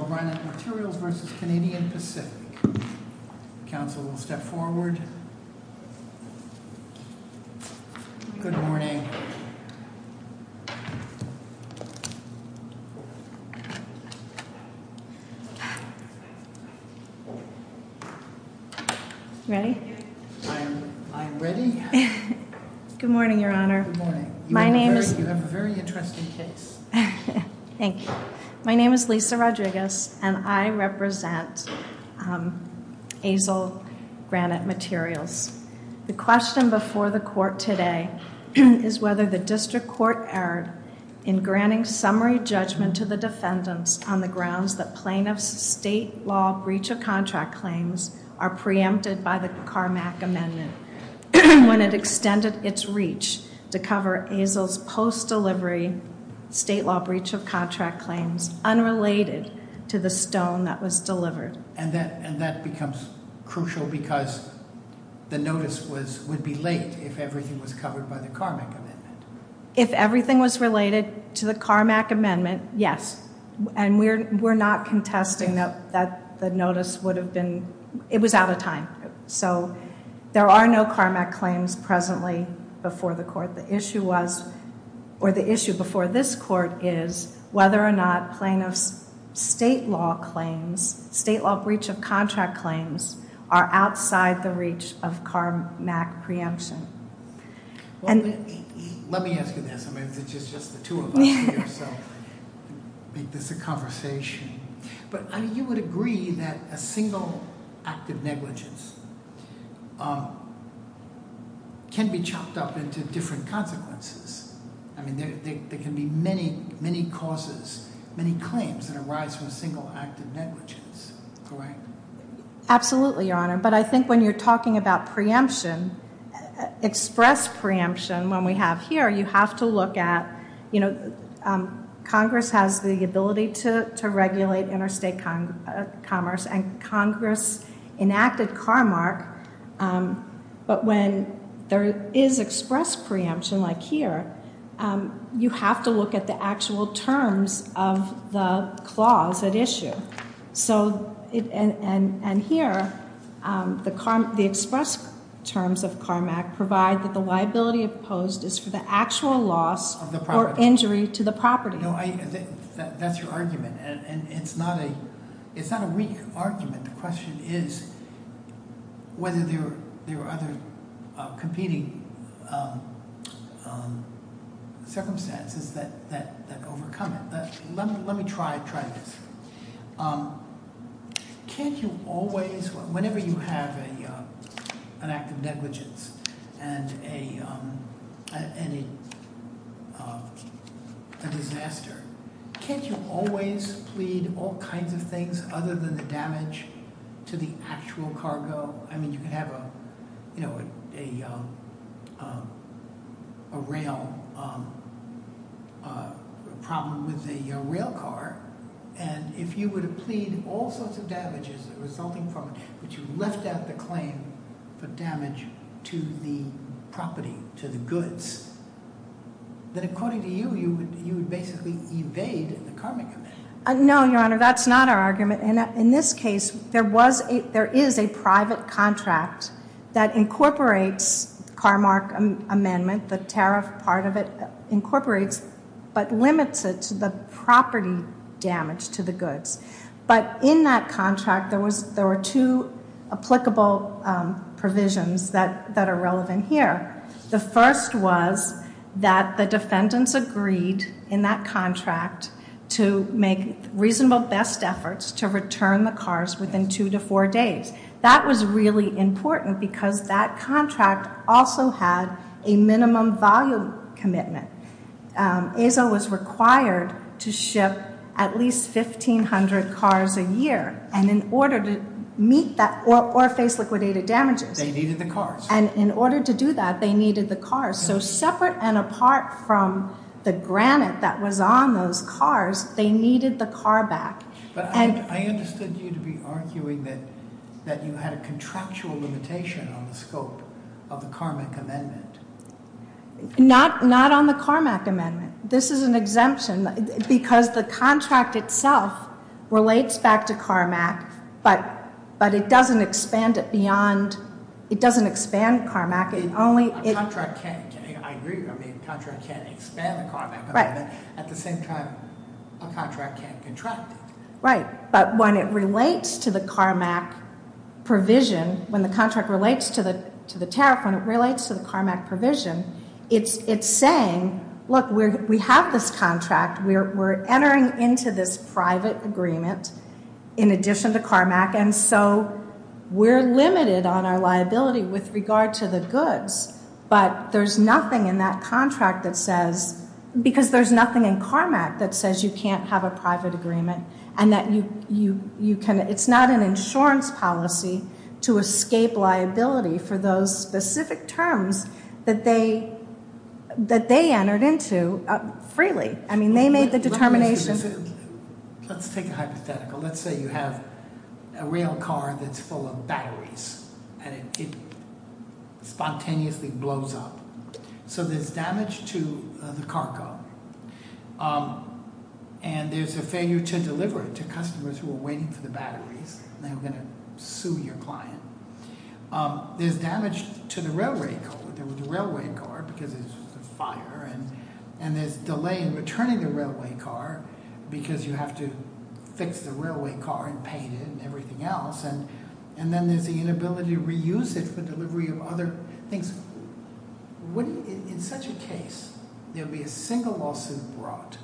Good morning. Ready? I'm ready. Good morning, your honor. My name is... You have a very interesting case. Thank you. My name is Lisa Rodriguez, and I represent Azzil Granite Materials. The question before the court today is whether the district court erred in granting summary judgment to the defendants on the grounds that plaintiff's state law breach of contract claims are preempted by the Carmack Amendment when it extended its reach to cover Azzil's post-delivery state law breach of contract claims unrelated to the stone that was delivered. And that becomes crucial because the notice would be late if everything was covered by the Carmack Amendment. If everything was related to the Carmack Amendment, yes. And we're not contesting that the notice would have been... It was out of time. So there are no Carmack claims presently before the court. The issue was, or the issue before this court is, whether or not plaintiff's state law claims, state law breach of contract claims, are outside the reach of Carmack preemption. Let me ask you this. I mean, it's just the two of us here, so make this a conversation. But I mean, you would agree that a single act of negligence can be chopped up into different consequences. I mean, there can be many, many causes, many claims that arise from a single act of negligence, correct? Absolutely, Your Honor. But I think when you're talking about preemption, express preemption, when we have here, you have to regulate interstate commerce, and Congress enacted Carmack. But when there is express preemption, like here, you have to look at the actual terms of the clause at issue. So, and here, the express terms of Carmack provide that the liability opposed is for the actual loss or injury to the property. That's your argument, and it's not a weak argument. The question is whether there are other competing circumstances that overcome it. Let me try this. Can't you always, whenever you have an act of negligence and a disaster, can't you always plead all kinds of things other than the damage to the actual cargo? I mean, you can have a rail problem with a rail car, and if you were to plead all sorts of damages resulting from it, but you left out the claim for damage to the property, to the goods, then according to you, you would basically evade the Carmack Amendment. No, Your Honor, that's not our argument. In this case, there is a private contract that incorporates Carmack Amendment, the tariff part of it incorporates, but limits it to the property damage to the goods. But in that contract, there were two applicable provisions that are relevant here. The first was that the defendants agreed in that contract to make reasonable best efforts to return the cars within two to four days. That was really important because that contract also had a minimum volume commitment. ESA was required to ship at least 1,500 cars a year, and in order to meet that, or face liquidated damages. They needed the cars. And in order to do that, they needed the cars. So separate and apart from the granite that was on those cars, they needed the car back. But I understood you to be arguing that you had a contractual limitation on the scope of the Carmack Amendment. Not on the Carmack Amendment. This is an exemption because the contract itself relates back to Carmack, but it doesn't expand it beyond, it doesn't expand Carmack. A contract can't, I agree, a contract can't expand the Carmack Amendment, but at the same time, a contract can't contract it. Right. But when it relates to the Carmack provision, when the contract relates to the tariff, when it relates to the Carmack provision, it's saying, look, we have this contract. We're entering into this private agreement in addition to Carmack, and so we're limited on our liability with regard to the goods. But there's nothing in that contract that says, because there's nothing in Carmack that says you can't have a private agreement, and that you can, it's not an insurance policy to escape liability for those specific terms that they entered into freely. I mean, they made the determination. Let's take a hypothetical. And it spontaneously blows up. So there's damage to the cargo, and there's a failure to deliver it to customers who are waiting for the batteries, and they're going to sue your client. There's damage to the railway car because there's a fire, and there's delay in returning the railway car because you have to fix the railway car and paint it and everything else. And then there's the inability to reuse it for delivery of other things. In such a case, there'll be a single lawsuit brought.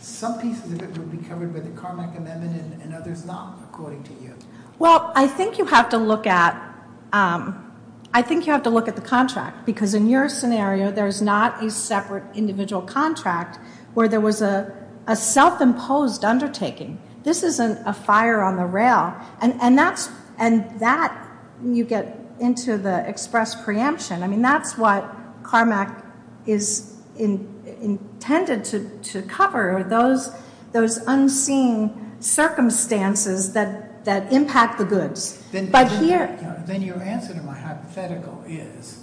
Some pieces of it will be covered by the Carmack amendment, and others not, according to you. Well, I think you have to look at the contract, because in your scenario, there's not a separate individual contract where there was a self-imposed undertaking. This isn't a fire on the rail. And that, you get into the express preemption. I mean, that's what Carmack is intended to cover, those unseen circumstances that impact the goods. But here... Then your answer to my hypothetical is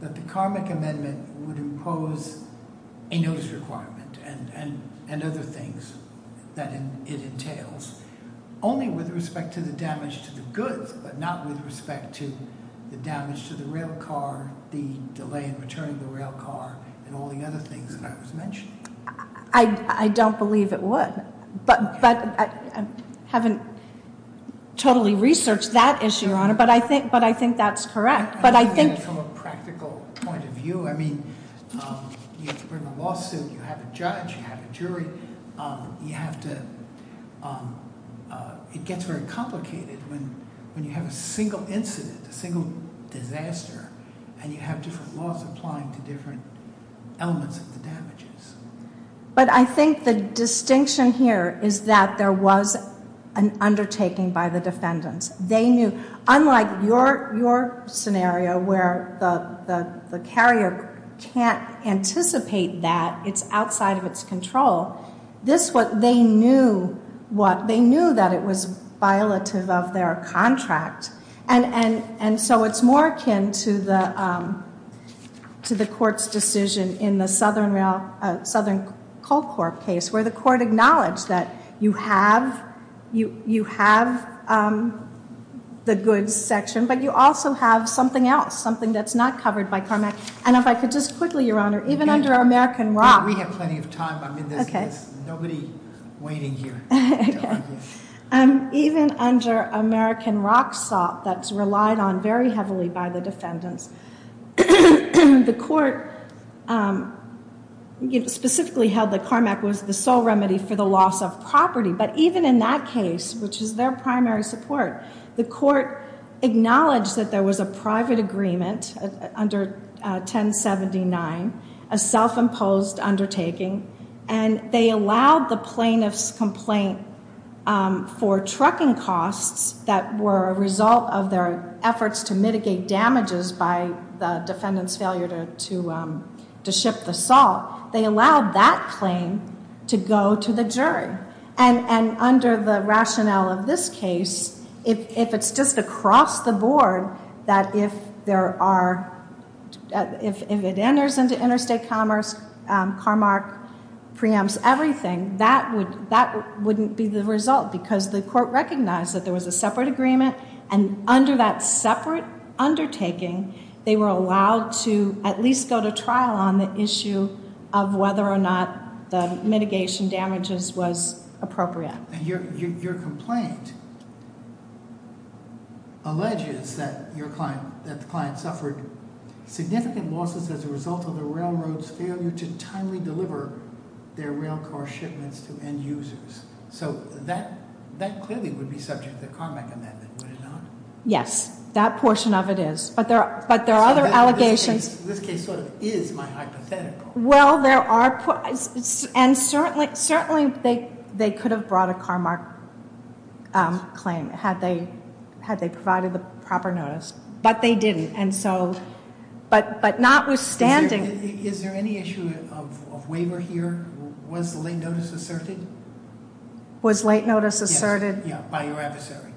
that the Carmack amendment would impose a notice requirement and other things that it entails, only with respect to the damage to the goods, but not with respect to the damage to the rail car, the delay in returning the rail car, and all the other things that I was mentioning. I don't believe it would. But I haven't totally researched that issue, Your Honor, but I think that's correct. But I think... From a practical point of view, I mean, you have to bring a lawsuit, you have a judge, you have a jury, you have to... It gets very complicated when you have a single incident, a single disaster, and you have different laws applying to different elements of the damages. But I think the distinction here is that there was an undertaking by the defendants. They knew... Unlike your scenario, where the carrier can't anticipate that it's outside of its control, they knew that it was violative of their contract. And so it's more akin to the court's decision in the Southern Coal Corp case, where the court acknowledged that you have the goods section, but you also have something else, something that's not covered by CARMAC. And if I could just quickly, Your Honor, even under American Rock... We have plenty of time. I mean, there's nobody waiting here. Okay. Even under American Rock salt that's relied on very heavily by the defendants, the court specifically held that CARMAC was the sole remedy for the loss of property. But even in that case, which is their primary support, the court acknowledged that there was a private agreement under 1079, a self-imposed undertaking, and they allowed the plaintiff's complaint for trucking costs that were a result of their efforts to mitigate damages by the defendants' failure to ship the salt. They allowed that claim to go to the jury. And under the rationale of this case, if it's just across the board that if there are... If it enters into interstate commerce, CARMAC preempts everything, that wouldn't be the result, because the court recognized that there was a separate agreement, and under that separate undertaking, they were allowed to at least go to trial on the issue of whether or not the mitigation damages was appropriate. Your complaint alleges that the client suffered significant losses as a result of the railroad's failure to timely deliver their railcar shipments to end users. So that clearly would be subject to the CARMAC amendment, would it not? Yes, that portion of it is. But there are other allegations... This case sort of is my hypothetical. Well, there are... And certainly they could have brought a CARMAC claim had they provided the proper notice, but they didn't, and so... But notwithstanding... Is there any issue of waiver here? Was the late notice asserted? Was late notice asserted? Yeah, by your adversary.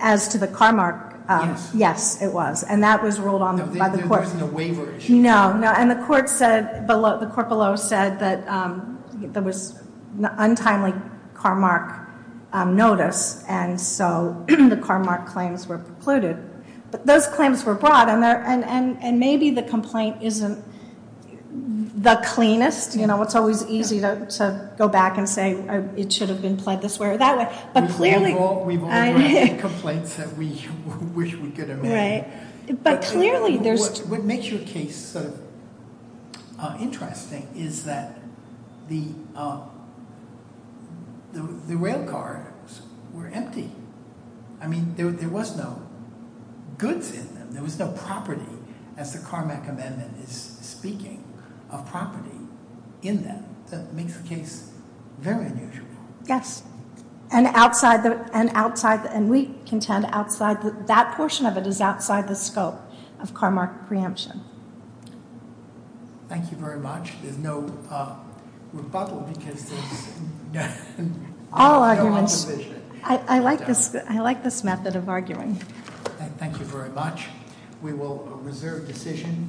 As to the CARMAC? Yes. Yes, it was, and that was ruled on by the court. So there wasn't a waiver issue? No, and the court below said that there was untimely CARMAC notice, and so the CARMAC claims were precluded. But those claims were brought, and maybe the complaint isn't the cleanest. You know, it's always easy to go back and say, it should have been pled this way or that way. We've all written complaints that we wish we could have written. But clearly there's... What makes your case sort of interesting is that the rail cars were empty. I mean, there was no goods in them. There was no property, as the CARMAC amendment is speaking, of property in them. That makes the case very unusual. Yes, and outside... And we contend outside... That portion of it is outside the scope of CARMAC preemption. Thank you very much. There's no rebuttal because there's... All arguments... I like this method of arguing. Thank you very much. We will reserve decision.